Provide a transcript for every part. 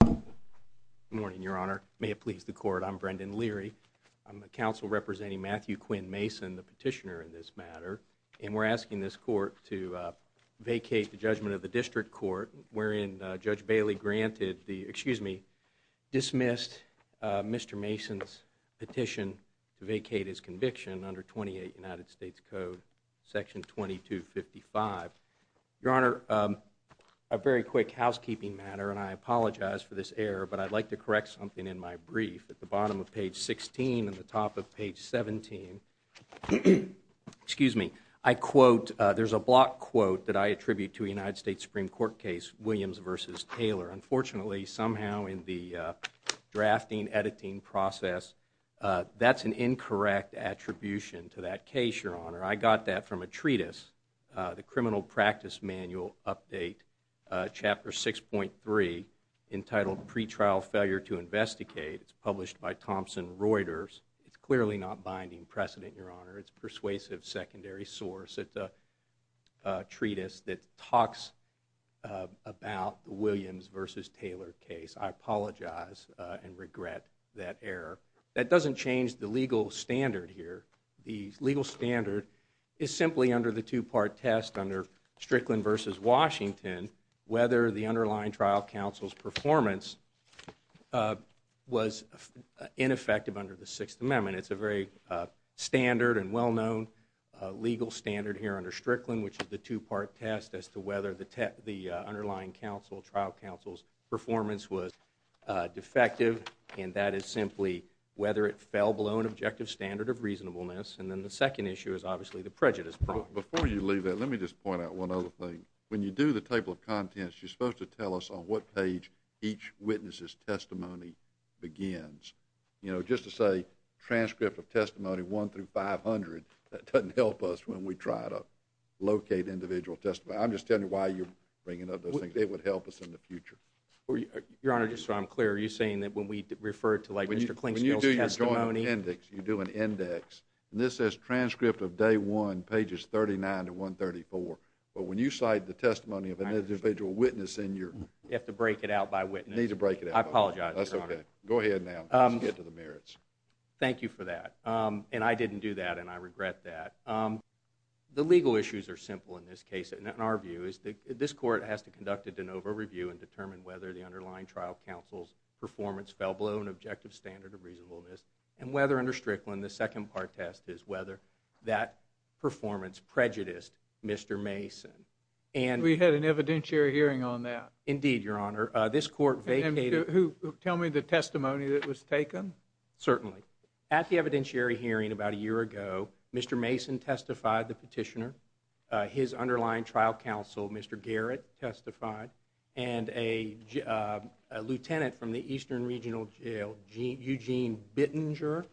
Good morning, Your Honor. May it please the Court, I'm Brendan Leary. I'm the counsel representing Matthew Quinn Mason, the petitioner in this matter, and we're asking this court to vacate the judgment of the district court wherein Judge Bailey granted the, excuse me, dismissed Mr. Mason's petition to vacate his conviction under 28 United States Code section 2255. Your Honor, a very quick housekeeping matter, and I apologize for this error, but I'd like to correct something in my brief. At the bottom of page 16 and the top of page 17, excuse me, I quote, there's a block quote that I attribute to a United States Supreme Court case, Williams v. Taylor. Unfortunately, somehow in the drafting, editing process, that's an incorrect attribution to that case, Your Honor. I got that from a treatise, the Criminal Practice Manual update chapter 6.3 entitled, Pre-trial Failure to Investigate. It's published by Thomson Reuters. It's clearly not binding precedent, Your Honor. It's persuasive secondary source. It's a treatise that talks about the Williams v. Taylor case. I apologize and regret that error. That doesn't change the legal standard here. The legal standard is simply under the two-part test under Strickland v. Washington, whether the underlying trial counsel's performance was ineffective under the Sixth Amendment. It's a very standard and well-known legal standard here under Strickland, which is the two-part test as to whether the underlying trial counsel's performance was defective, and that is whether it fell below an objective standard of reasonableness, and then the second issue is obviously the prejudice problem. Before you leave that, let me just point out one other thing. When you do the table of contents, you're supposed to tell us on what page each witness's testimony begins. You know, just to say transcript of testimony 1 through 500, that doesn't help us when we try to locate individual testimony. I'm just telling you why you're bringing up those things. They would help us in the future. Your Honor, just so I'm clear, are you referring to like Mr. Klinkspiel's testimony? When you do your joint index, you do an index, and this says transcript of day one, pages 39 to 134, but when you cite the testimony of an individual witness in your... You have to break it out by witness. You need to break it out by witness. I apologize, Your Honor. That's okay. Go ahead now. Let's get to the merits. Thank you for that, and I didn't do that, and I regret that. The legal issues are simple in this case, and in our view is that this court has to conduct a de novo review and determine whether the objective standard of reasonableness, and whether under Strickland, the second part test is whether that performance prejudiced Mr. Mason, and... We had an evidentiary hearing on that. Indeed, Your Honor. This court vacated... Tell me the testimony that was taken. Certainly. At the evidentiary hearing about a year ago, Mr. Mason testified, the petitioner. His underlying trial counsel, Mr. Garrett, testified, and a lieutenant from the Eastern Regional Jail, Eugene Bittinger.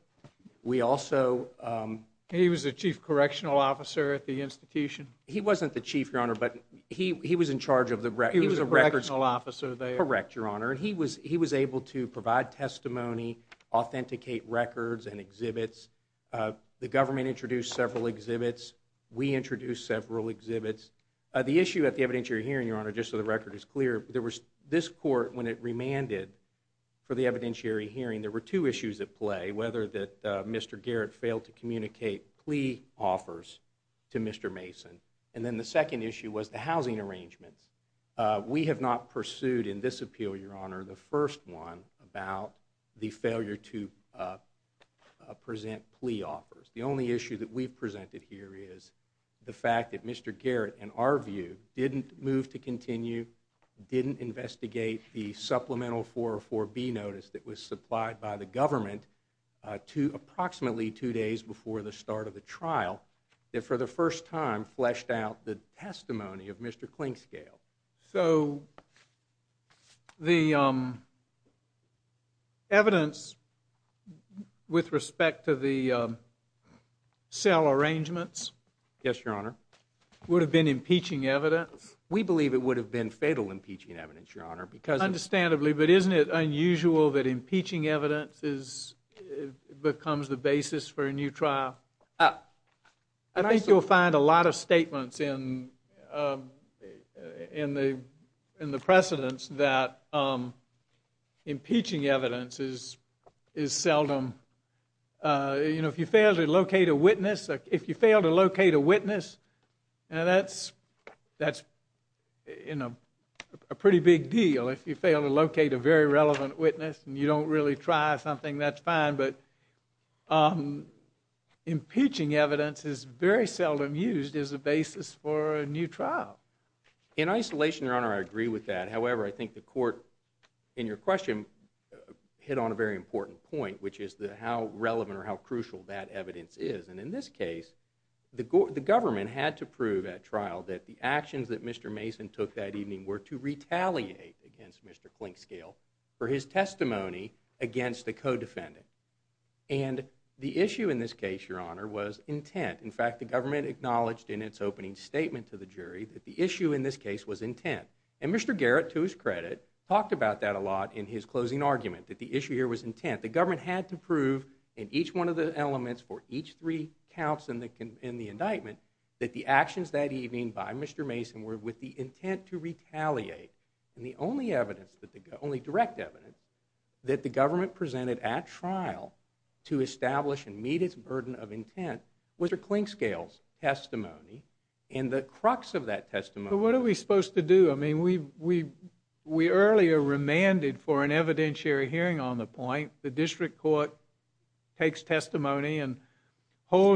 We also... He was a chief correctional officer at the institution? He wasn't the chief, Your Honor, but he was in charge of the records. He was a correctional officer there? Correct, Your Honor. He was able to provide testimony, authenticate records and exhibits. The government introduced several exhibits. We Your Honor, just so the record is clear, there was... This court, when it remanded for the evidentiary hearing, there were two issues at play. Whether that Mr. Garrett failed to communicate plea offers to Mr. Mason, and then the second issue was the housing arrangements. We have not pursued in this appeal, Your Honor, the first one about the failure to present plea offers. The only issue that we've presented here is the fact that Mr. Garrett, in our view, didn't move to continue, didn't investigate the supplemental 404B notice that was supplied by the government to approximately two days before the start of the trial, that for the first time fleshed out the testimony of Mr. Clinkscale. So the evidence with respect to the cell arrangements... Yes, Your Honor. Would have been impeaching evidence? We believe it would have been fatal impeaching evidence, Your Honor, because... Understandably, but isn't it unusual that impeaching evidence becomes the basis for a new trial? I think you'll find a lot of statements in the precedents that impeaching evidence is seldom... You know, if you fail to locate a witness, if you fail to locate a witness, now that's, that's, you know, a pretty big deal. If you fail to locate a very relevant witness and you don't really try something, that's fine, but impeaching evidence is very seldom used as a basis for a new trial. In isolation, Your Honor, I agree with that. However, I think the court, in your question, hit on a very crucial, that evidence is, and in this case, the government had to prove at trial that the actions that Mr. Mason took that evening were to retaliate against Mr. Clinkscale for his testimony against the co-defendant. And the issue in this case, Your Honor, was intent. In fact, the government acknowledged in its opening statement to the jury that the issue in this case was intent. And Mr. Garrett, to his credit, talked about that a lot in his closing argument, that the for each three counts in the indictment, that the actions that evening by Mr. Mason were with the intent to retaliate. And the only evidence that the, only direct evidence, that the government presented at trial to establish and meet its burden of intent, was Mr. Clinkscale's testimony. And the crux of that testimony. But what are we supposed to do? I mean, we, we, we earlier remanded for an holds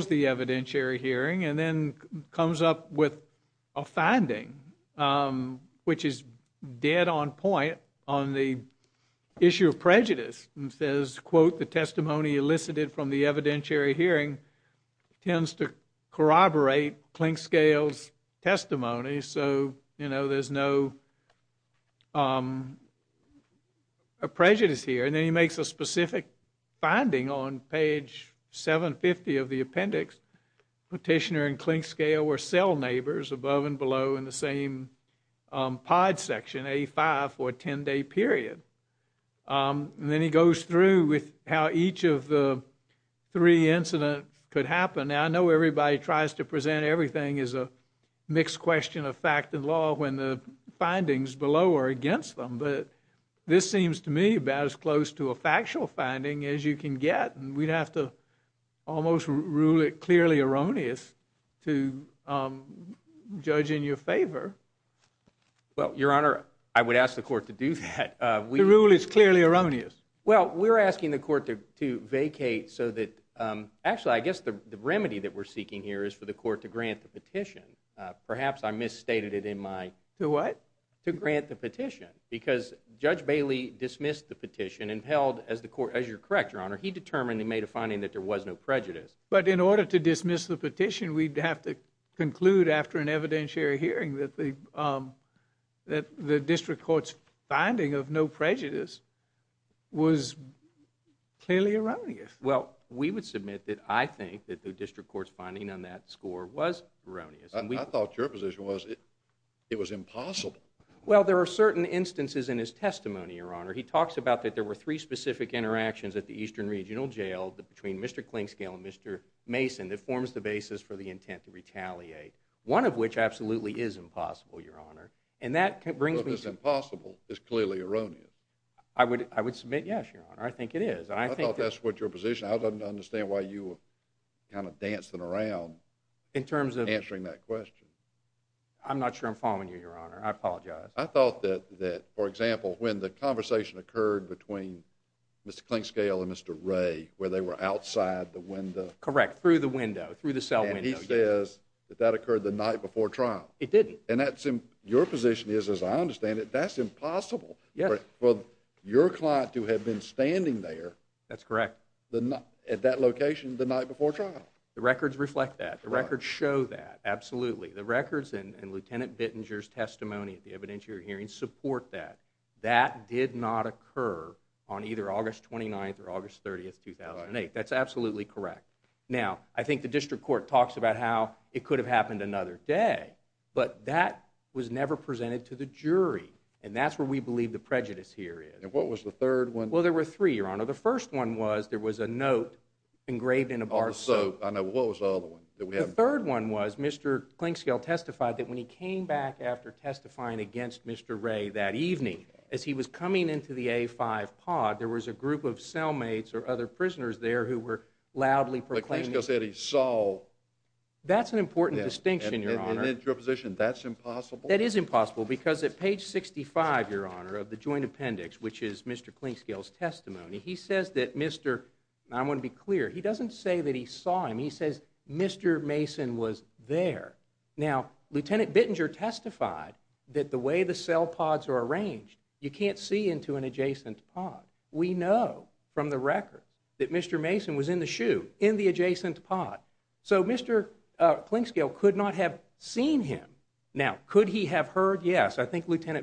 the evidentiary hearing and then comes up with a finding which is dead on point on the issue of prejudice and says, quote, the testimony elicited from the evidentiary hearing tends to corroborate Clinkscale's testimony. So, you know, there's no, um, a prejudice here. And then he makes a specific finding on page 750 of the appendix. Petitioner and Clinkscale were cell neighbors above and below in the same pod section, a five or 10 day period. Um, and then he goes through with how each of the three incidents could happen. I know everybody tries to present everything is a mixed question of fact and law. When the findings below are against them. But this seems to me about as close to a factual finding as you can get. And we'd have to almost rule it clearly erroneous to, um, judge in your favor. Well, Your Honor, I would ask the court to do that. We rule it's clearly erroneous. Well, we're asking the court to vacate so that, um, actually, I guess the remedy that we're seeking here is for the court to grant the petition. Perhaps I misstated it in my what to grant the petition because Judge Bailey dismissed the petition and held as the court as your correct, Your Honor, he determined they made a finding that there was no prejudice. But in order to dismiss the petition, we'd have to conclude after an evidentiary hearing that the, um, that the district court's finding of no prejudice was clearly erroneous. Well, we would submit that. I think that the district court's finding on that score was erroneous. I thought your position was it was impossible. Well, there are certain instances in his testimony, Your Honor. He talks about that there were three specific interactions at the Eastern Regional Jail between Mr Klingscale and Mr Mason that forms the basis for the intent to retaliate, one of which absolutely is impossible, Your Honor. And that brings me to impossible is clearly erroneous. I would I would submit. Yes, Your Honor, I think it is. I think that's what your position. I danced around in terms of answering that question. I'm not sure I'm following you, Your Honor. I apologize. I thought that that, for example, when the conversation occurred between Mr Klingscale and Mr Ray, where they were outside the window, correct through the window through the cell, he says that that occurred the night before trial. It didn't. And that's in your position is, as I understand it, that's impossible for your client to have been standing there. That's correct. The not at that location the night before the records reflect that the records show that absolutely the records and Lieutenant Bittinger's testimony at the evidentiary hearing support that that did not occur on either August 29th or August 30th 2008. That's absolutely correct. Now, I think the district court talks about how it could have happened another day, but that was never presented to the jury. And that's where we believe the prejudice here is. What was the third one? Well, there were three, Your Honor. The first one was there was a note engraved in a bar. So I know what was the other one? The third one was Mr Klingscale testified that when he came back after testifying against Mr Ray that evening, as he was coming into the A five pod, there was a group of cellmates or other prisoners there who were loudly proclaiming said he saw. That's an important distinction. Your position. That's impossible. That is impossible. Because at page 65, Your Honor of the joint appendix, which is Mr Klingscale's testimony, he says that Mr I'm gonna be clear. He doesn't say that he saw him. He says Mr Mason was there. Now, Lieutenant Bittinger testified that the way the cell pods are arranged, you can't see into an adjacent pod. We know from the record that Mr Mason was in the shoe in the adjacent pod. So Mr Klingscale could not have seen him. Now, could he have heard? Yes, I think the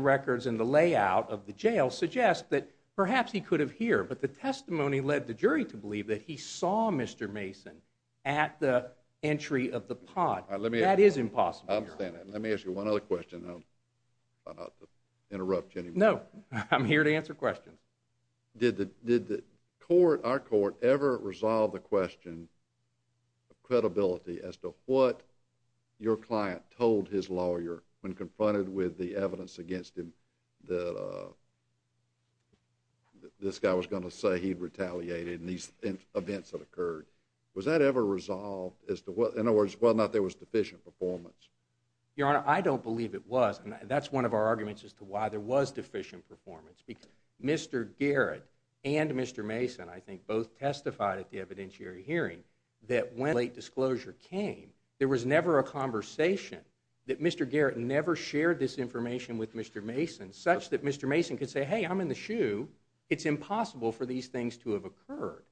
records in the layout of the jail suggest that perhaps he could have here. But the testimony led the jury to believe that he saw Mr Mason at the entry of the pot. Let me that is impossible. Let me ask you one other question. No, I'm here to answer questions. Did the did the court our court ever resolve the question of credibility as to what your client told his lawyer when confronted with the evidence against him? That, uh, this guy was gonna say he retaliated in these events that occurred. Was that ever resolved as to what? In other words, well, not there was deficient performance. Your Honor, I don't believe it was. And that's one of our arguments as to why there was deficient performance. Because Mr Garrett and Mr Mason, I think both testified at the evidentiary hearing that when late closure came, there was never a conversation that Mr Garrett never shared this information with Mr Mason such that Mr Mason could say, Hey, I'm in the shoe. It's impossible for these things to have occurred.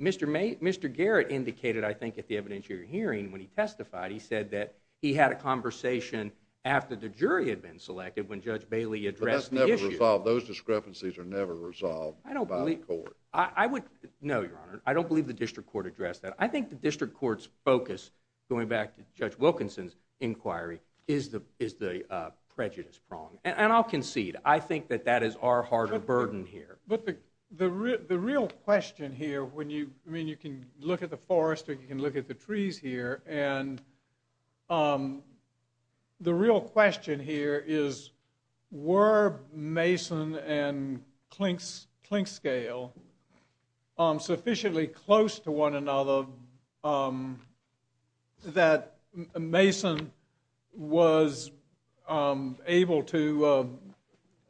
Mr May Mr Garrett indicated, I think, at the evidentiary hearing when he testified, he said that he had a conversation after the jury had been selected when Judge Bailey addressed the issue. Those discrepancies are never resolved. I don't believe I would. No, Your Honor, I don't believe the district court addressed that. I think the district court's focus going back to Judge Wilkinson's inquiry is the is the prejudice prong. And I'll concede. I think that that is our heart of burden here. But the real question here when you mean you can look at the forest, you can look at the trees here and, um, the real question here is were Mason and clinks clink scale, um, sufficiently close to one another? Um, that Mason was, um, able to, uh,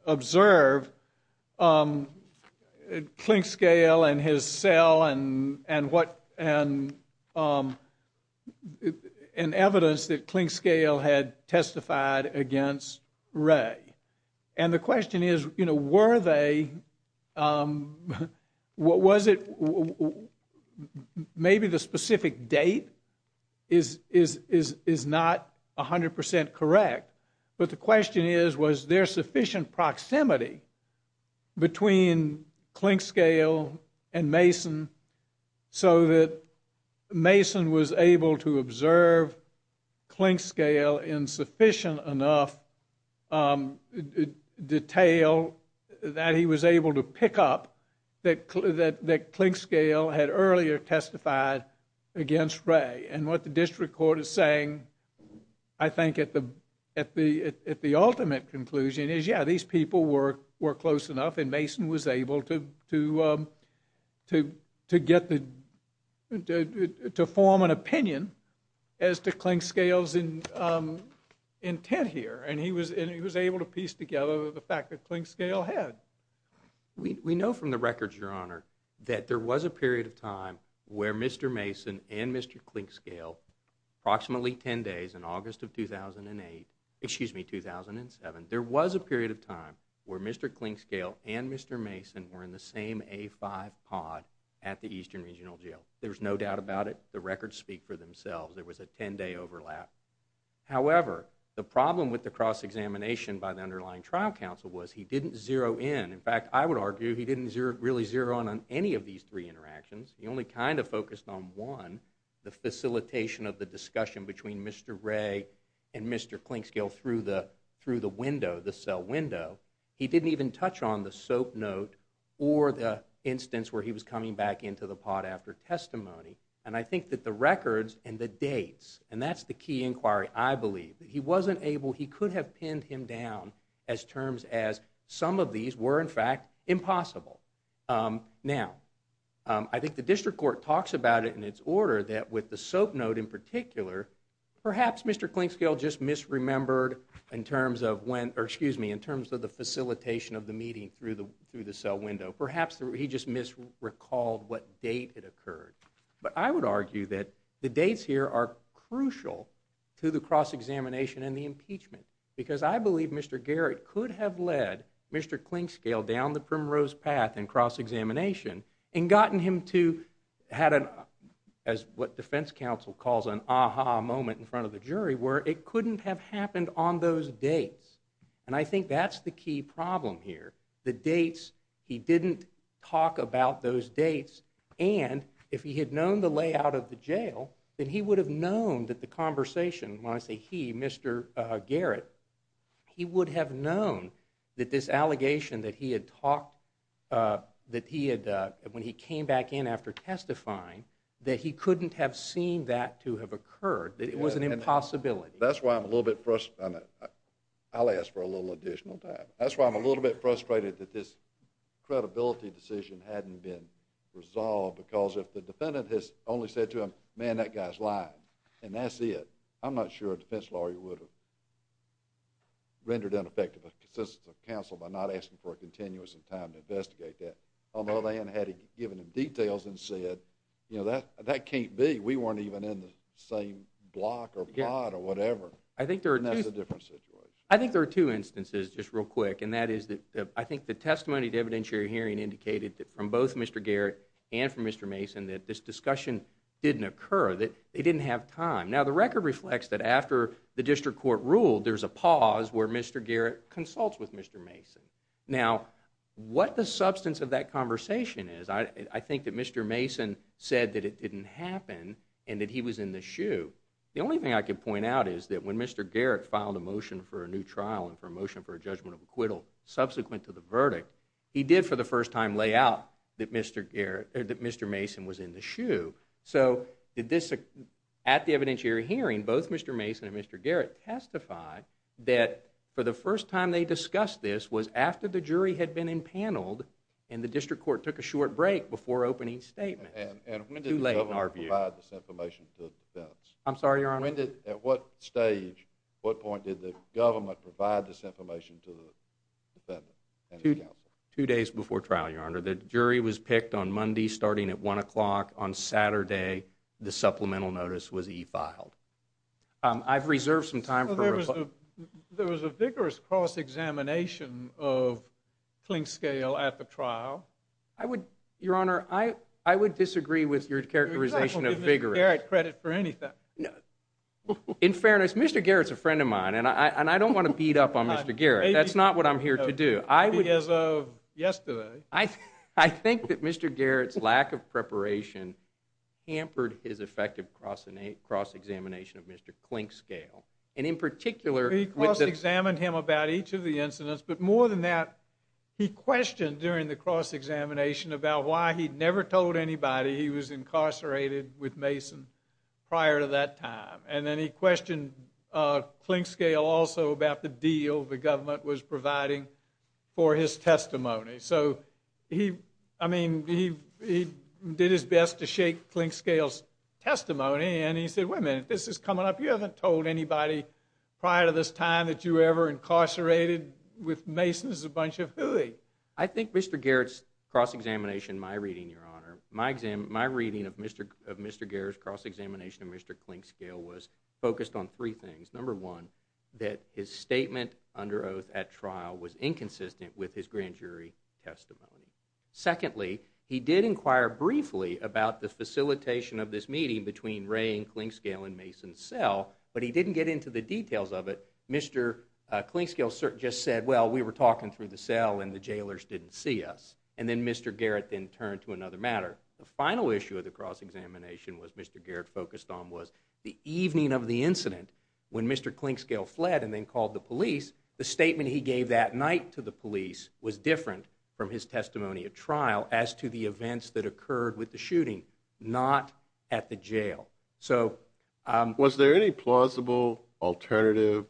observe, um, clink scale and his cell and and what? And, um, an evidence that clink scale had testified against Ray. And the question is, you know, were they? Um, what was it? Maybe the specific date is is is is not 100% correct. But the question is, was there sufficient proximity between clink scale and Mason so that Mason was able to observe clink scale insufficient enough? Um, detail that he was able to pick up that that clink scale had earlier testified against Ray and what the district court is saying. I think at the at the at the ultimate conclusion is, Yeah, these people were were close enough and Mason was able to to to to get the to form an opinion as to clink scales in, um, intent here. And he was and he was able to piece together the fact that clink scale had. We know from the records, Your Honor, that there was a period of time where Mr Mason and Mr Clink scale approximately 10 days in August of 2008. Excuse me, 2007. There was a period of time where Mr Clink scale and Mr Mason were in the same a five pod at the Eastern Regional Jail. There's no doubt about it. The records speak for themselves. There was a 10 day overlap. However, the problem with the cross examination by the underlying trial counsel was he didn't zero in. In fact, I would argue he didn't really zero on on any of these three interactions. He only kind of focused on one. The facilitation of the discussion between Mr Ray and Mr Clink scale through the through the window, the cell window. He didn't even touch on the soap note or the instance where he was coming back into the pot after testimony. And I think that the records and the dates and that's the key inquiry. I believe that he wasn't able. He could have pinned him down as terms as some of these were, in fact, impossible. Um, now, I think the district court talks about it in its order that with the soap note in particular, perhaps Mr Clink scale just misremembered in terms of when, or excuse me, in terms of the facilitation of the meeting through the through the cell window. Perhaps he just missed recalled what date it occurred. But I would argue that the dates here are crucial to the cross examination and the impeachment because I believe Mr Garrett could have led Mr Clink scale down the primrose path and cross examination and gotten him to had an as what defense counsel calls an aha moment in front of the jury where it couldn't have happened on those dates. And I think that's the key problem here. The dates, he didn't talk about those dates. And if he had known the layout of the jail, then he would have known that the conversation when I say he, Mr Garrett, he would have known that this allegation that he had talked, uh, that he had when he came back in after testifying that he couldn't have seen that to have occurred, that it was an impossibility. That's why I'm a little bit first. I'll ask for a little additional time. That's why I'm a little bit frustrated that this credibility decision hadn't been resolved because if the defendant has only said to him, man, that guy's lying and that's it. I'm not sure a defense lawyer would have rendered ineffective assistance of counsel by not asking for a continuous and time to investigate that. Although they hadn't had given him details and said, you know, that that can't be. We weren't even in the same block or plot or whatever. I think there's a different situation. I think there are two instances just real quick. And that is that I think the testimony to evidentiary hearing indicated that from both Mr Garrett and from Mr Mason that this discussion didn't occur, that they didn't have time. Now, the record reflects that after the district court ruled, there's a pause where Mr Garrett consults with Mr Mason. Now, what the substance of that conversation is, I think that Mr Mason said that it didn't happen and that he was in the shoe. The only thing I could point out is that when Mr Garrett filed a motion for a new trial and promotion for a judgment of acquittal subsequent to the verdict, he did for the first time lay out that Mr Garrett that Mr Mason was in the shoe. So did this at the evidentiary hearing, both Mr Mason and Mr Garrett testified that for the first time they discussed this was after the jury had been impaneled and the district court took a short break before opening statement and too late in our view information to the defense. I'm sorry, your honor. When did at what stage, what point did the government provide this information to the defendant two days before trial? Your honor, the jury was picked on monday starting at one o'clock on saturday. The supplemental notice was he filed. I've reserved some time. There was a vigorous cross examination of clink scale at the trial. I would, your honor, I would disagree with your characterization of vigorous credit for anything. In fairness, Mr Garrett's a friend of mine and I don't want to beat up on Mr Garrett. That's not what I'm here to do. I would, as of yesterday, I think that Mr Garrett's lack of preparation hampered his effective crossing a cross examination of Mr clink scale. And in particular, he cross examined him about each of the incidents. But more than that, he questioned during the cross examination about why he never told anybody he was incarcerated with Mason prior to that time. And then he questioned clink scale also about the deal the government was did his best to shake clink scales testimony. And he said, wait a minute, this is coming up. You haven't told anybody prior to this time that you ever incarcerated with Mason's a bunch of who they I think Mr Garrett's cross examination. My reading, your honor, my exam, my reading of Mr of Mr Garrett's cross examination of Mr clink scale was focused on three things. Number one, that his statement under oath at trial was inconsistent with his grand jury testimony. Secondly, he did inquire briefly about the facilitation of this meeting between rain clink scale and Mason's cell, but he didn't get into the details of it. Mr clink scale just said, well, we were talking through the cell and the jailers didn't see us. And then Mr Garrett then turned to another matter. The final issue of the cross examination was Mr Garrett focused on was the evening of the incident when Mr clink scale fled and then called the police was different from his testimony of trial as to the events that occurred with the shooting, not at the jail. So, um, was there any plausible alternative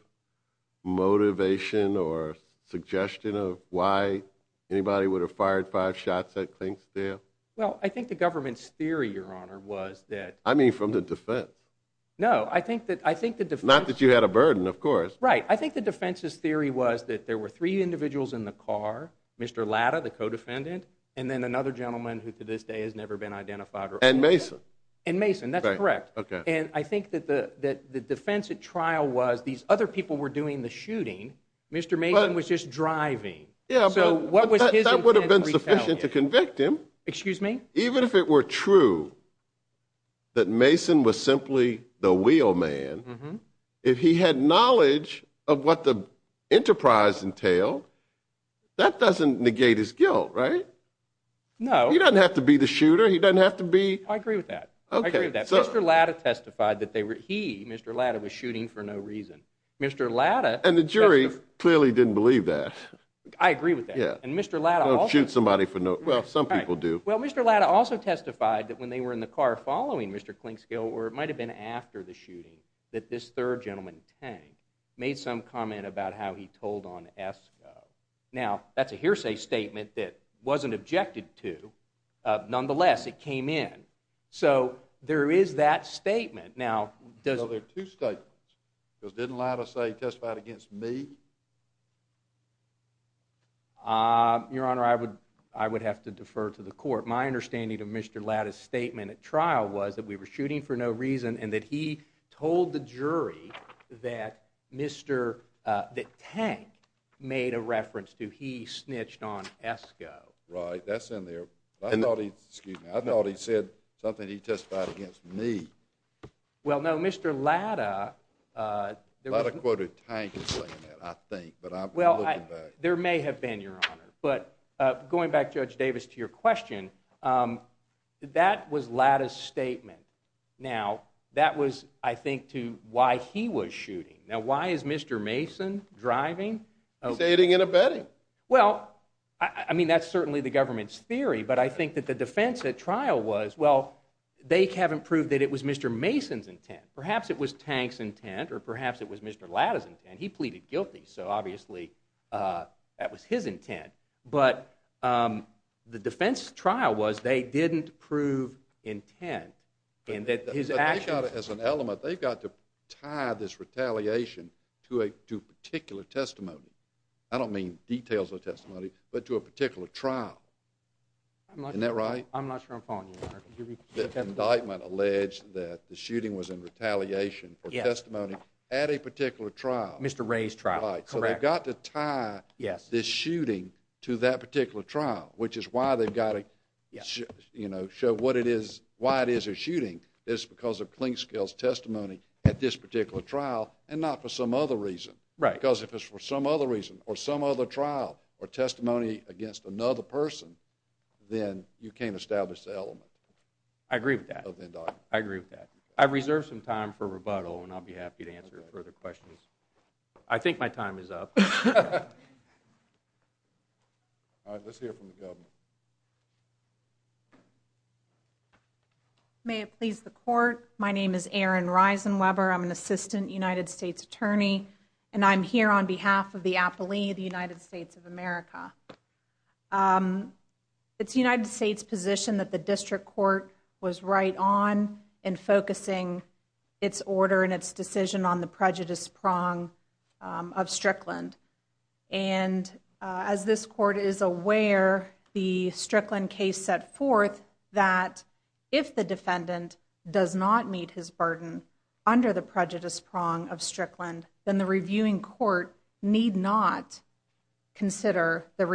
motivation or suggestion of why anybody would have fired five shots at clink scale? Well, I think the government's theory, your honor, was that I mean from the defense. No, I think that I think the defense, not that you had a burden, of course, right? I think the defense's theory was that there were three individuals in the car, Mr Latta, the co defendant and then another gentleman who to this day has never been identified and Mason and Mason. That's correct. Okay. And I think that the that the defense at trial was these other people were doing the shooting. Mr Mason was just driving. So what was that would have been sufficient to convict him. Excuse me. Even if it were true that Mason was simply the wheel man. If he had knowledge of what the enterprise entailed, that doesn't negate his guilt, right? No, he doesn't have to be the shooter. He doesn't have to be. I agree with that. Okay. Mr Latta testified that they were he Mr Latta was shooting for no reason. Mr Latta and the jury clearly didn't believe that. I agree with that. And Mr Latta shoot somebody for no. Well, some people do. Well, Mr Latta also testified that when they were in the car following Mr Clink scale or it might have been after the shooting that this third gentleman tank made some comment about how he told on s. Now that's a hearsay statement that wasn't objected to. Nonetheless, it came in. So there is that statement. Now, there are two statements because didn't allow to say testified against me. Uh, Your Honor, I would, I would have to defer to the court. My understanding of Mr Latta's statement at trial was that we were shooting for no reason and that he told the jury that Mr, uh, the tank made a reference to. He snitched on Esco, right? That's in there. I thought he, excuse me. I thought he said something. He testified against me. Well, no, Mr Latta, uh, a lot of quoted tank. I think. But well, there may have been, Your Honor. But going back judge Davis to your question, um, that was Latta's statement. Now that was, I think, to why he was shooting. Now, why is Mr Mason driving stating in a bedding? Well, I mean, that's certainly the government's theory. But I think that the defense at trial was well, they haven't proved that it was Mr Mason's intent. Perhaps it was tanks intent or perhaps it was Mr Latta's and he pleaded guilty. So obviously, uh, that was his intent. But, um, the defense trial was they didn't prove intent and that his action as an element, they've got to tie this retaliation to a to particular testimony. I don't mean details of testimony, but to a particular trial. I'm not that right. I'm not sure I'm following you. The indictment alleged that the shooting was in retaliation for testimony at a particular trial. Mr Ray's trial. So they've got to tie this shooting to that particular trial, which is why they've got to, you know, show what it is, why it is a shooting is because of clink scales testimony at this particular trial and not for some other reason, because if it's for some other reason or some other trial or testimony against another person, then you can't establish the element. I agree with that. I agree with that. I reserve some time for rebuttal and I'll be happy to answer further questions. I think my time is up. All right, let's hear from the government. May it please the court. My name is Aaron rise and Weber. I'm an assistant United States attorney and I'm here on behalf of the Apple II, the United States of America. Um, it's United States position that the district court was right on and focusing its order and its decision on the prejudice prong of Strickland. And as this court is aware, the Strickland case set forth that if the defendant does not meet his burden under the prejudice prong of Strickland, then the reviewing court need not consider the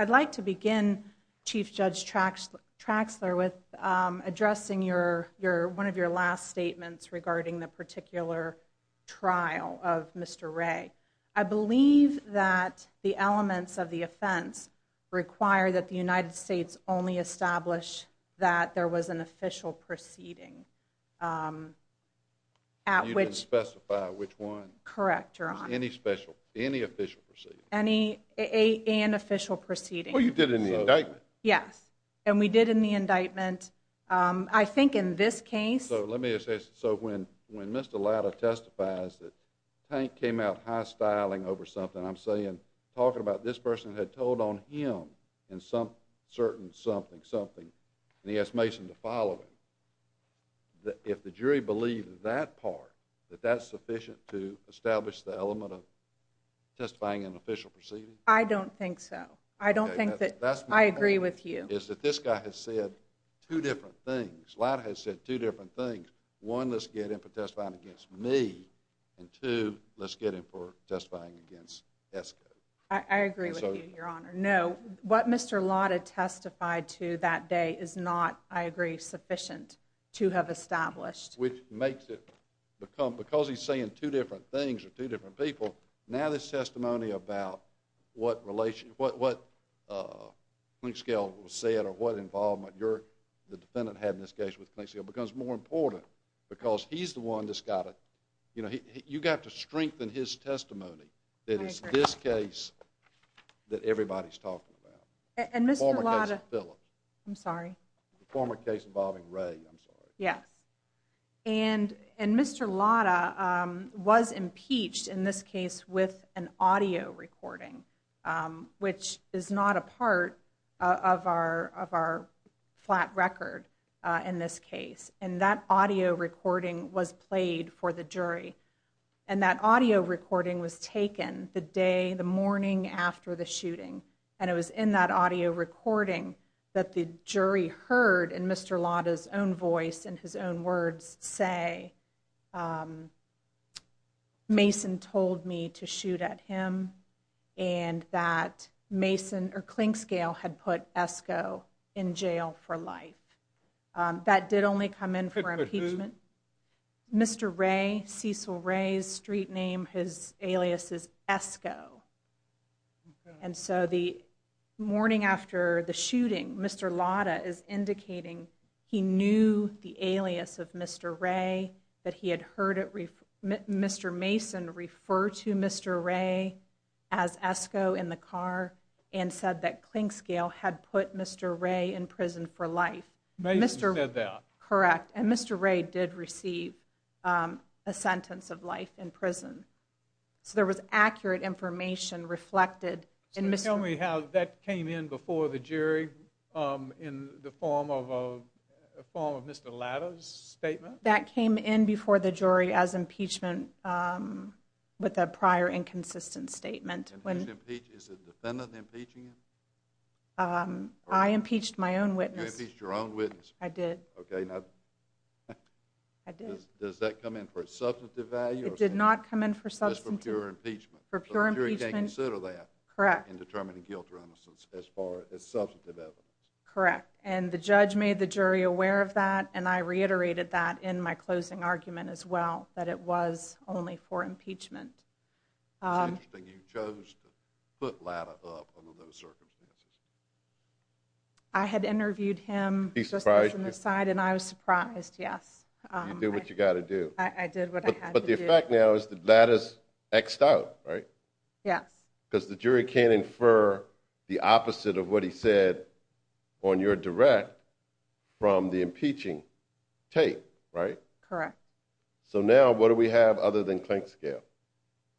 I'd like to begin Chief Judge tracks tracks there with addressing your your one of your last statements regarding the particular trial of Mr Ray. I believe that the elements of the offense require that the United States only established that there was an official proceeding. Um, at which specify which one? Correct. You're on any special, any official any a an official proceeding you did in the indictment? Yes. And we did in the indictment. Um, I think in this case, let me say. So when when Mr Latta testifies that tank came out high styling over something, I'm saying talking about this person had told on him in some certain something, something and he has Mason to follow him. If the jury believed that part that that's sufficient to establish the element of testifying an official proceeding. I don't think so. I don't think that I agree with you is that this guy has said two different things. Lot has said two different things. One, let's get him for testifying against me and two, let's get him for testifying against Esco. I agree with you, Your Honor. No, what Mr Latta testified to that day is not, I agree, sufficient to have established, which makes it become because he's saying two different things or two different people. Now, this testimony about what relation, what, what, uh, link scale will say it or what involvement you're the defendant had in this case with Mexico becomes more important because he's the one that's got it. You know, you got to strengthen his testimony. That is this case that everybody's talking about. And Mr Latta, I'm sorry, former case involving Ray. I'm sorry. Yes. And and Mr Latta was impeached in this case with an audio recording, which is not a part of our of our flat record in this case. And that audio recording was played for the jury. And that audio recording was taken the day, the morning after the shooting. And it was in that audio recording that the jury heard in Mr Latta's own voice and his own words say, um, Mason told me to shoot at him and that Mason or clink scale had put Esco in jail for life. Um, that did only come in for impeachment. Mr Ray Cecil Ray's street name. His alias is Esco. And so the morning after the shooting, Mr Latta is indicating he knew the alias of Mr Ray that he had heard it. Mr Mason refer to Mr Ray as Esco in the car and said that clink scale had put Mr Ray in prison for life. Mr Correct. And Mr Ray did receive, um, a sentence of life in prison. So there was accurate information reflected. Tell me how that came in before the jury. Um, in the form of a form of Mr Latta's statement that came in before the jury as impeachment. Um, with a prior inconsistent statement when impeach is a defendant impeaching him. Um, I impeached my own witness. Your own I did. Okay. Now I did. Does that come in for a substantive value? It did not come in for substance for pure impeachment. Consider that correct in determining guilt or innocence as far as substantive evidence. Correct. And the judge made the jury aware of that. And I reiterated that in my closing argument as well, that it was only for impeachment. Um, you chose to put latter circumstances. I had interviewed him. He's surprised in the side, and I was surprised. Yes, you do what you gotta do. I did. But the effect now is that that is X out, right? Yes, because the jury can infer the opposite of what he said on your direct from the impeaching take, right? Correct. So now what do we have other than clink scale?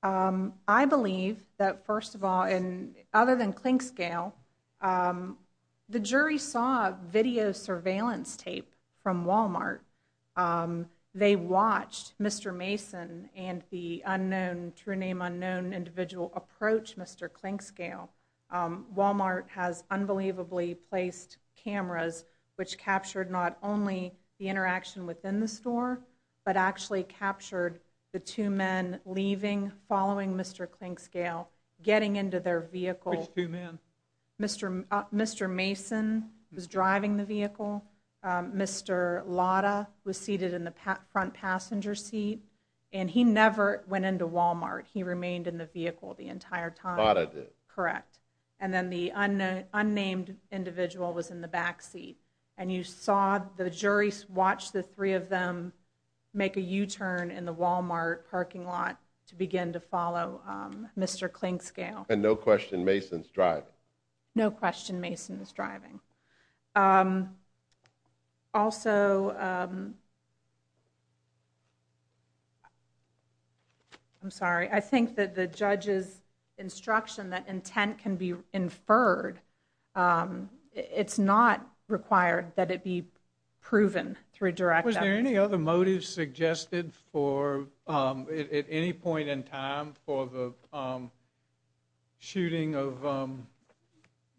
Um, I believe that first of all, in other than clink scale, um, the jury saw video surveillance tape from Walmart. Um, they watched Mr Mason and the unknown true name unknown individual approach. Mr Clink scale. Um, Walmart has unbelievably placed cameras which captured not only the two men leaving following Mr Clink scale getting into their vehicle, two men. Mr. Mr. Mason was driving the vehicle. Mr Lada was seated in the front passenger seat, and he never went into Walmart. He remained in the vehicle the entire time. Correct. And then the unknown unnamed individual was in the back seat, and you saw the jury's watch the three of them make a U turn in the Walmart parking lot to begin to follow Mr Clink scale. And no question. Mason's drive. No question. Mason is driving. Um, also, um, I'm sorry. I think that the judge's instruction that intent can be inferred. Um, it's not required that it be proven through direct. Was there any other motive suggested for, um, at any point in time for the, um, shooting of, um,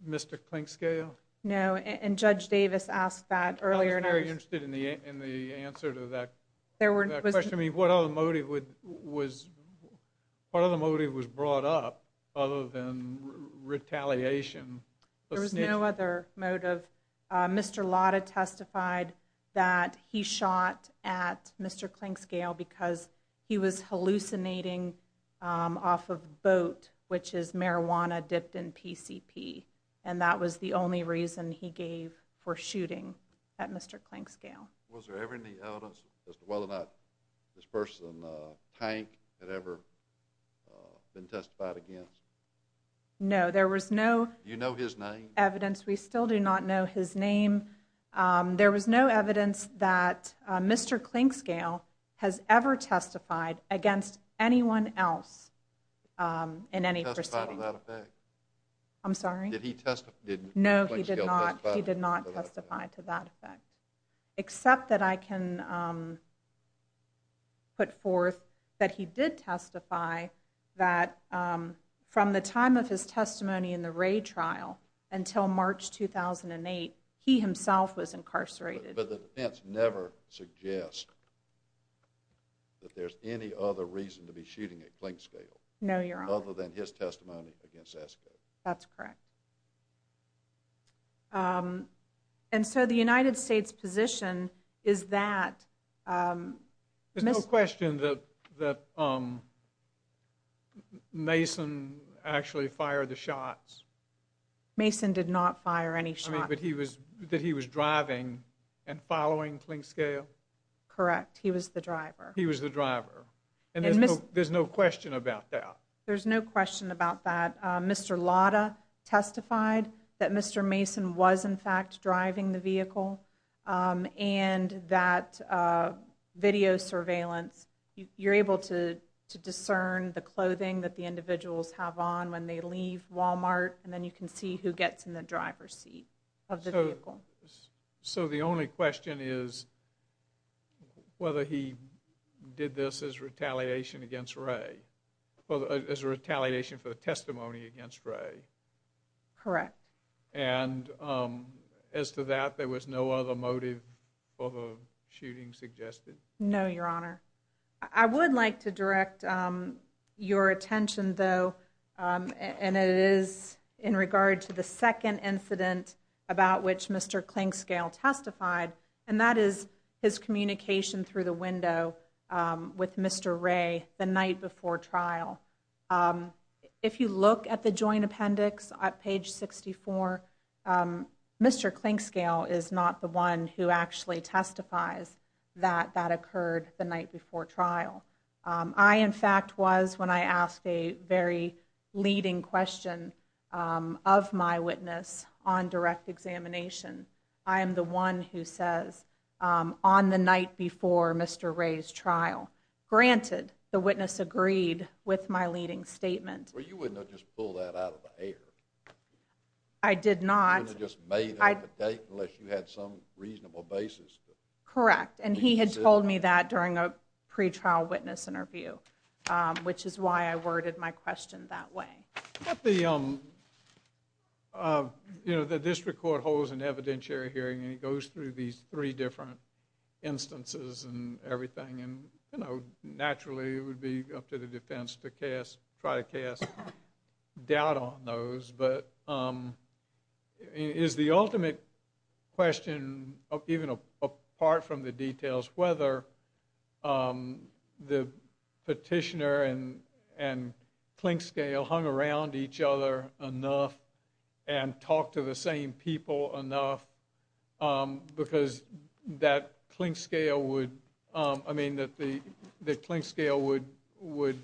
Mr Clink scale? No. And Judge Davis asked that earlier. And I was very interested in the in the answer to that. There weren't. I mean, what other motive would was part of the motive was brought up other than retaliation. There was no other motive. Mr Lada testified that he shot at Mr Clink scale because he was hallucinating off of boat, which is marijuana dipped in P. C. P. And that was the only reason he gave for shooting at Mr Clink scale. Was there ever any evidence as to whether or not this person tank had been testified against? No, there was no, you know, his name evidence. We still do not know his name. Um, there was no evidence that Mr Clink scale has ever testified against anyone else. Um, in any person. I'm sorry. Did he testify? No, he did not. He did not testify to that effect, except that I can, um, put forth that he did testify that, um, from the time of his testimony in the raid trial until March 2000 and eight, he himself was incarcerated. But the defense never suggest that there's any other reason to be shooting a clink scale. No, you're other than his testimony against that's correct. Um, and so the United States position is that, um, there's no question that that, um, Mason actually fired the shots. Mason did not fire any shot. But he was that he was driving and following clink scale. Correct. He was the driver. He was the driver. And there's no question about that. There's no question about that. Mr Lotta testified that Mr Mason was, in fact, driving the vehicle. Um, and that video surveillance, you're able to discern the clothing that the individuals have on when they leave Walmart. And then you can see who gets in the driver's seat of the vehicle. So the only validation for the testimony against Ray. Correct. And, um, as to that, there was no other motive for the shooting suggested. No, Your Honor, I would like to direct your attention, though. Um, and it is in regard to the second incident about which Mr Clink scale testified, and that is his if you look at the joint appendix at page 64. Um, Mr Clink scale is not the one who actually testifies that that occurred the night before trial. Um, I, in fact, was when I asked a very leading question, um, of my witness on direct examination. I am the one who says, um, on the night before Mr Ray's Well, you wouldn't have just pulled that out of the air. I did not just made the date unless you had some reasonable basis. Correct. And he had told me that during a pretrial witness interview, which is why I worded my question that way. The, um, uh, you know, the district court holds an evidentiary hearing, and he goes through these three different instances and everything. And, you know, naturally, it would be up to the defense to cast, try to cast doubt on those. But, um, is the ultimate question of even apart from the details, whether, um, the petitioner and and clink scale hung around each other enough and talked to the same people enough. Um, because that clink scale would, I mean, that the clink scale would would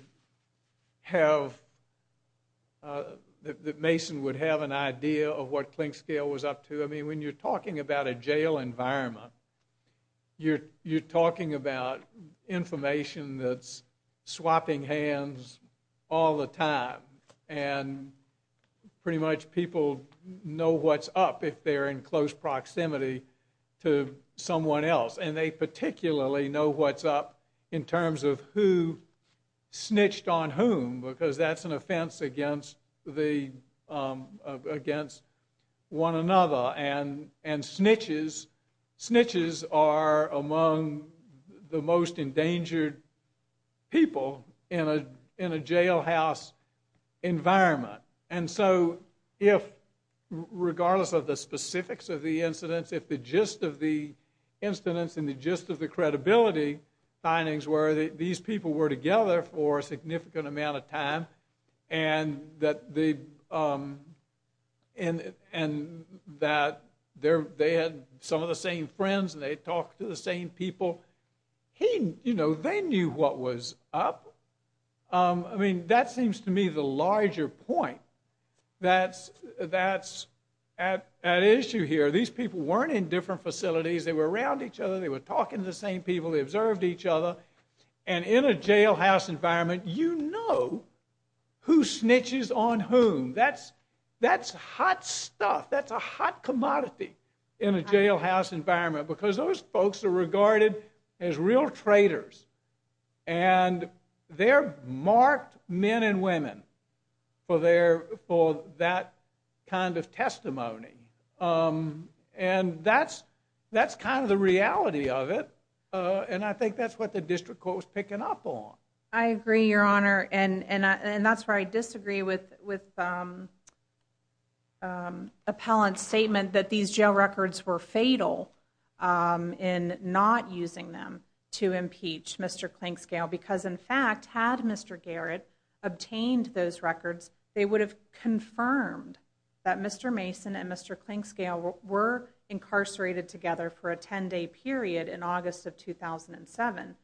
have, uh, that Mason would have an idea of what clink scale was up to. I mean, when you're talking about a jail environment, you're talking about information that's swapping hands all the time, and pretty much people know what's up if they're in particularly know what's up in terms of who snitched on whom, because that's an offense against the, um, against one another and and snitches. Snitches are among the most endangered people in a in a jailhouse environment. And so if, regardless of the specifics of the incidents, if the gist of the incidents and the gist of the credibility findings were that these people were together for a significant amount of time and that they, um, and and that they're, they had some of the same friends and they talked to the same people, he, you know, they knew what was up. Um, I mean, that seems to me the larger point that's, that's at issue here. These people weren't in different facilities. They were around each other. They were talking to the same people. They observed each other. And in a jailhouse environment, you know who snitches on whom. That's, that's hot stuff. That's a hot commodity in a jailhouse environment, because those folks are regarded as real traitors, and they're marked men and that's kind of the reality of it. Uh, and I think that's what the district court was picking up on. I agree, Your Honor. And and that's where I disagree with with, um, um, appellant statement that these jail records were fatal. Um, in not using them to impeach Mr Clink scale, because, in fact, had Mr Garrett obtained those records, they would have confirmed that Mr Mason and Mr Clink scale were incarcerated together for a 10 day period in August of 2007.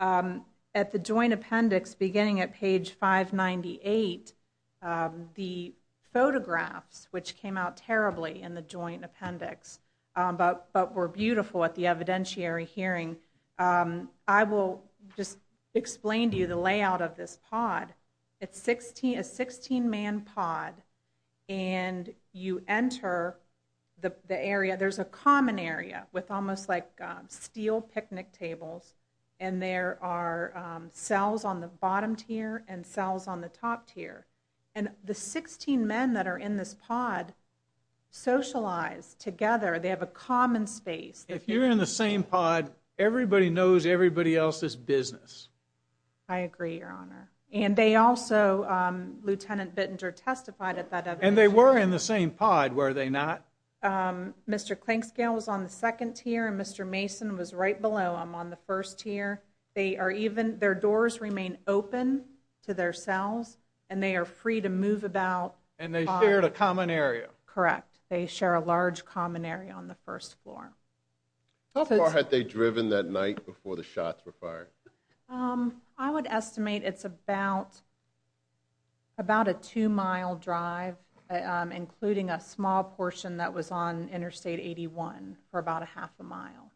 Um, at the joint appendix, beginning at page 5 98. Um, the photographs, which came out terribly in the joint appendix, but but were beautiful at the evidentiary hearing. Um, I will just explain to you the layout of this pod. It's 16 a 16 man pod and you enter the area. There's a common area with almost like steel picnic tables, and there are cells on the bottom tier and cells on the top tier. And the 16 men that are in this pod socialize together. They have a common space. If you're in the same pod, everybody knows everybody else's business. I agree, Your Honor. And they also, um, Lieutenant Bittinger testified at that, and they were in the same pod. Were they not? Um, Mr Clink scale was on the second tier, and Mr Mason was right below. I'm on the first tier. They are even their doors remain open to their cells, and they are free to move about. And they shared a common area. Correct. They share a large common area on the first floor. How far had they driven that night before the shots were fired? Um, I would estimate it's about about a two mile drive, including a small portion that was on Interstate 81 for about a half a mile.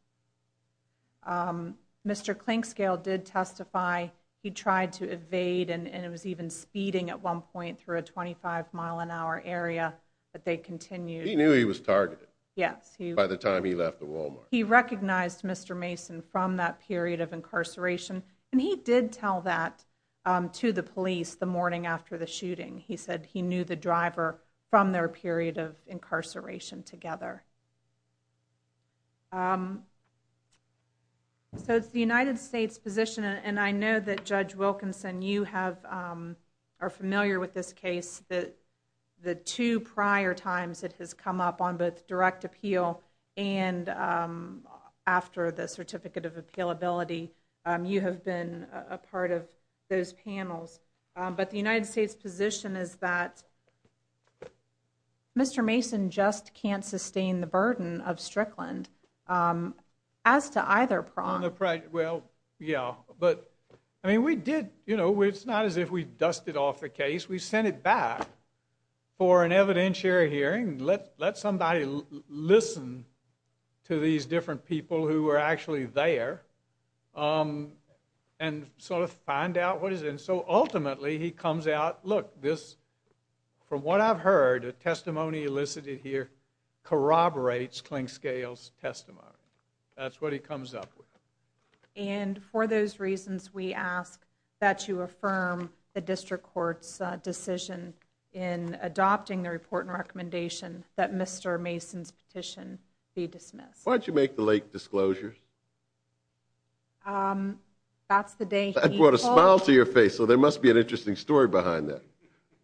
Um, Mr Clink scale did testify. He tried to evade, and it was even speeding at one point through a 25 mile an hour area that they continued. He knew he was targeted. Yes, he by the time he left the Walmart, he recognized Mr Mason from that period of incarceration, and he did tell that to the police the morning after the shooting. He said he knew the driver from their period of incarceration together. Um, so it's the United States position, and I know that Judge Wilkinson, you have, um, are familiar with this case that the two prior times it has come up on both direct appeal and, um, after the certificate of appeal ability, you have been a part of those panels. But the United States position is that Mr Mason just can't sustain the burden of Strickland. Um, as to either prong the pride. Well, yeah, but I mean, we did. You know, it's not as if we somebody listen to these different people who were actually there, um, and sort of find out what is. And so, ultimately, he comes out. Look, this from what I've heard testimony elicited here corroborates clink scales testimony. That's what he comes up with. And for those reasons, we ask that you affirm the district court's decision in adopting the report and Mr Mason's petition be dismissed. Why'd you make the late disclosures? Um, that's the day I brought a smile to your face. So there must be an interesting story behind that.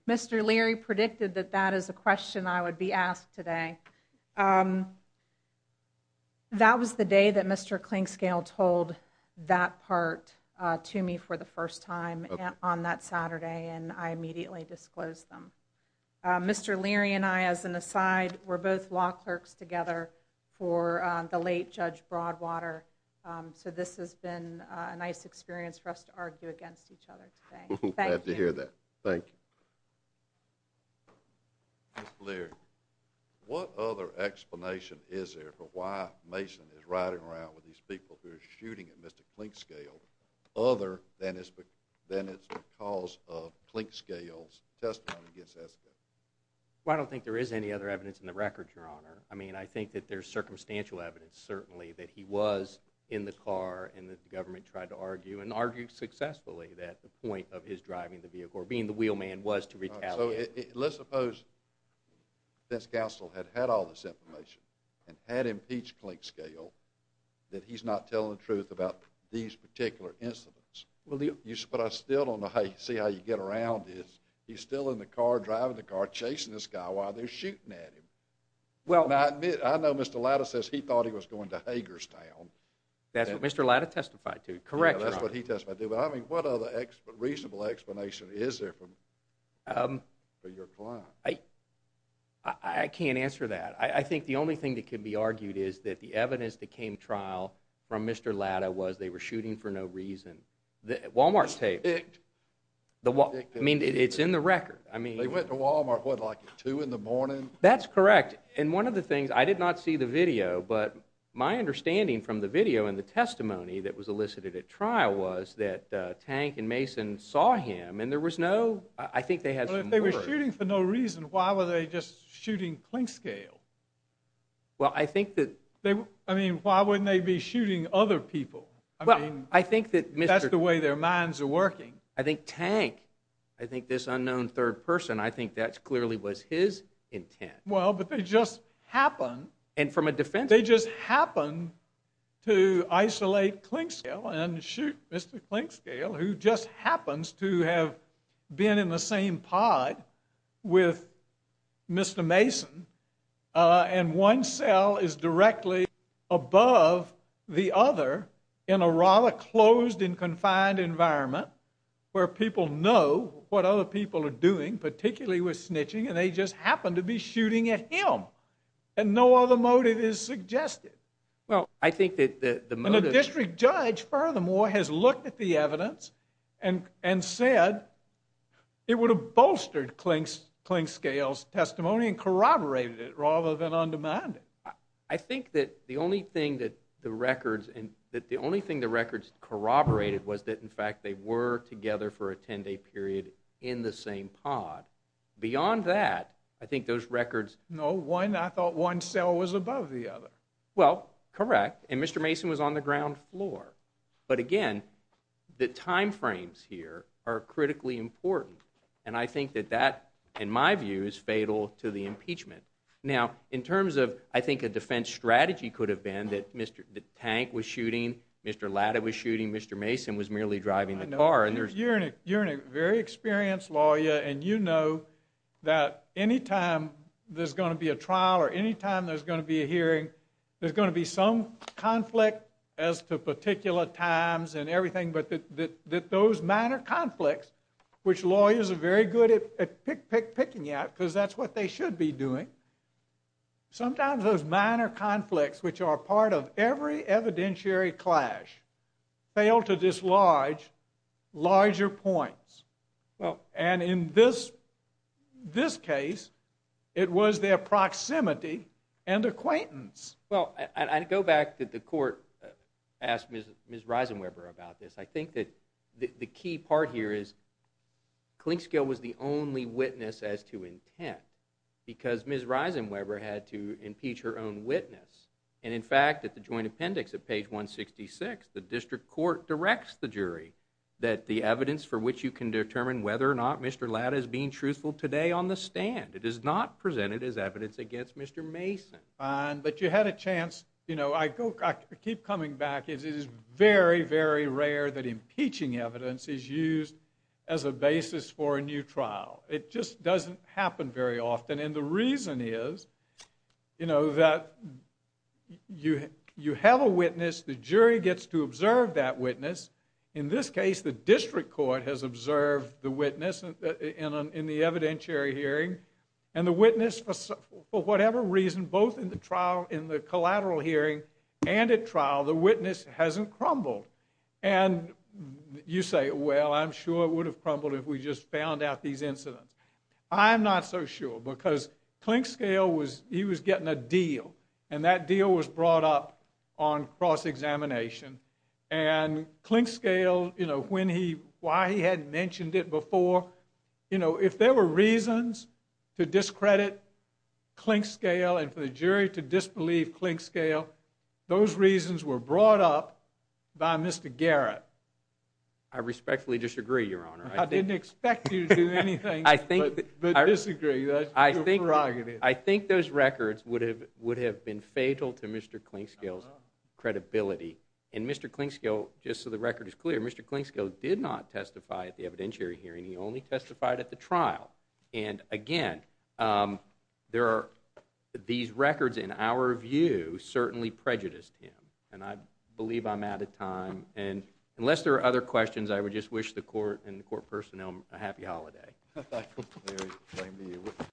Mr Leary predicted that that is a question I would be asked today. Um, that was the day that Mr Clink scale told that part to me for the first time on that Saturday, and I immediately disclosed them. Mr Leary and I, as an aside, we're both law clerks together for the late Judge Broadwater. Um, so this has been a nice experience for us to argue against each other. Thank you hear that. Thank you, Larry. What other explanation is there for why Mason is riding around with these people who are shooting at Mr Clink scale other than his? But then it's because of clink scales testimony against us. I don't think there is any other evidence in the record, Your Honor. I mean, I think that there's circumstantial evidence, certainly, that he was in the car and that the government tried to argue and argue successfully that the point of his driving the vehicle or being the wheel man was to retaliate. Let's suppose this council had had all this information and had impeached clink scale that he's not telling the truth about these particular incidents. But I still don't know how you see how you get around is he's still in the car driving the car chasing this guy while they're shooting at him. Well, I know Mr Latta says he thought he was going to Hager's town. That's what Mr Latta testified to. Correct. That's what he does. But I mean, what other reasonable explanation is there from, um, for your client? I I can't answer that. I think the only thing that could be argued is that the evidence that came trial from Mr Latta was they were shooting for no reason. The walmart's taped. I mean, it's in the record. I mean, they went to walmart would like to in the morning. That's correct. And one of the things I did not see the video. But my understanding from the video and the testimony that was elicited at trial was that tank and Mason saw him and there was no, I think they had, they were shooting for no reason. Why were they just shooting clink scale? Well, I think that I mean, why wouldn't they be shooting other people? I think that that's the way their minds are working. I think tank, I think this unknown third person, I think that's clearly was his intent. Well, but they just happened and from a defense, they just happened to isolate clink scale and shoot Mr Clink scale, who just happens to have been in the same pod with Mr Mason. Uh, and one cell is directly above the other in a rather closed and confined environment where people know what other people are doing, particularly with snitching, and they just happened to be shooting at him and no other motive is suggested. Well, I think that the district judge furthermore has looked at the evidence and and said it would have bolstered clink clink scales testimony and corroborated it rather than undemanded. I think that the only thing that the records and that the only thing the records corroborated was that in fact they were together for a 10 day period in the same pod. Beyond that, I think those records no one. I thought one cell was above the other. Well, correct. And Mr Mason was on the ground floor. But again, the time frames here are critically important, and I think that that, in my view, is fatal to the impeachment. Now, in terms of I think a defense strategy could have been that Mr Tank was shooting. Mr Latta was shooting. Mr Mason was merely driving the car and there's you're in a very experienced lawyer, and you know that anytime there's gonna be a trial or anytime there's gonna be a hearing, there's gonna be some conflict as to particular times and everything. But that that those minor conflicts, which lawyers are very good at pick picking out because that's what they should be doing. Sometimes those minor conflicts, which are part of every evidentiary clash, failed to dislodge larger points. Well, and in this this case, it was their proximity and acquaintance. Well, I go back that the court asked Miss Risen Webber about this. I think that the key part here is Clink scale was the only witness as to intent because Miss Risen Webber had to impeach her own witness. And in fact, at the joint appendix of page 1 66, the district court directs the jury that the evidence for which you can determine whether or not Mr Latta is being truthful today on the stand. It is not presented as evidence against Mr Mason. Fine, but you had a chance. You know, I keep coming back. It is very, very rare that impeaching evidence is used as a basis for a new trial. It just doesn't happen very often. And the reason is, you know, that you have a witness. The jury gets to observe that witness. In this case, the district court has observed the witness in the evidentiary hearing and the witness for whatever reason, both in the trial in the collateral hearing and at trial, the witness hasn't crumbled. And you say, well, I'm sure it would have crumbled if we just found out these incidents. I'm not so sure because clink scale was he was getting a deal and that deal was brought up on cross examination and clink scale. You know when he why he mentioned it before, you know, if there were reasons to discredit clink scale and for the jury to disbelieve clink scale, those reasons were brought up by Mr Garrett. I respectfully disagree, Your Honor. I didn't expect you to do anything. I think I disagree. I think I think those records would have would have been fatal to Mr Clink skills credibility and Mr Clink scale. Just so record is clear, Mr Clink scale did not testify at the evidentiary hearing. He only testified at the trial. And again, um, there are these records in our view certainly prejudiced him and I believe I'm out of time. And unless there are other questions, I would just wish the court and the court personnel a happy holiday.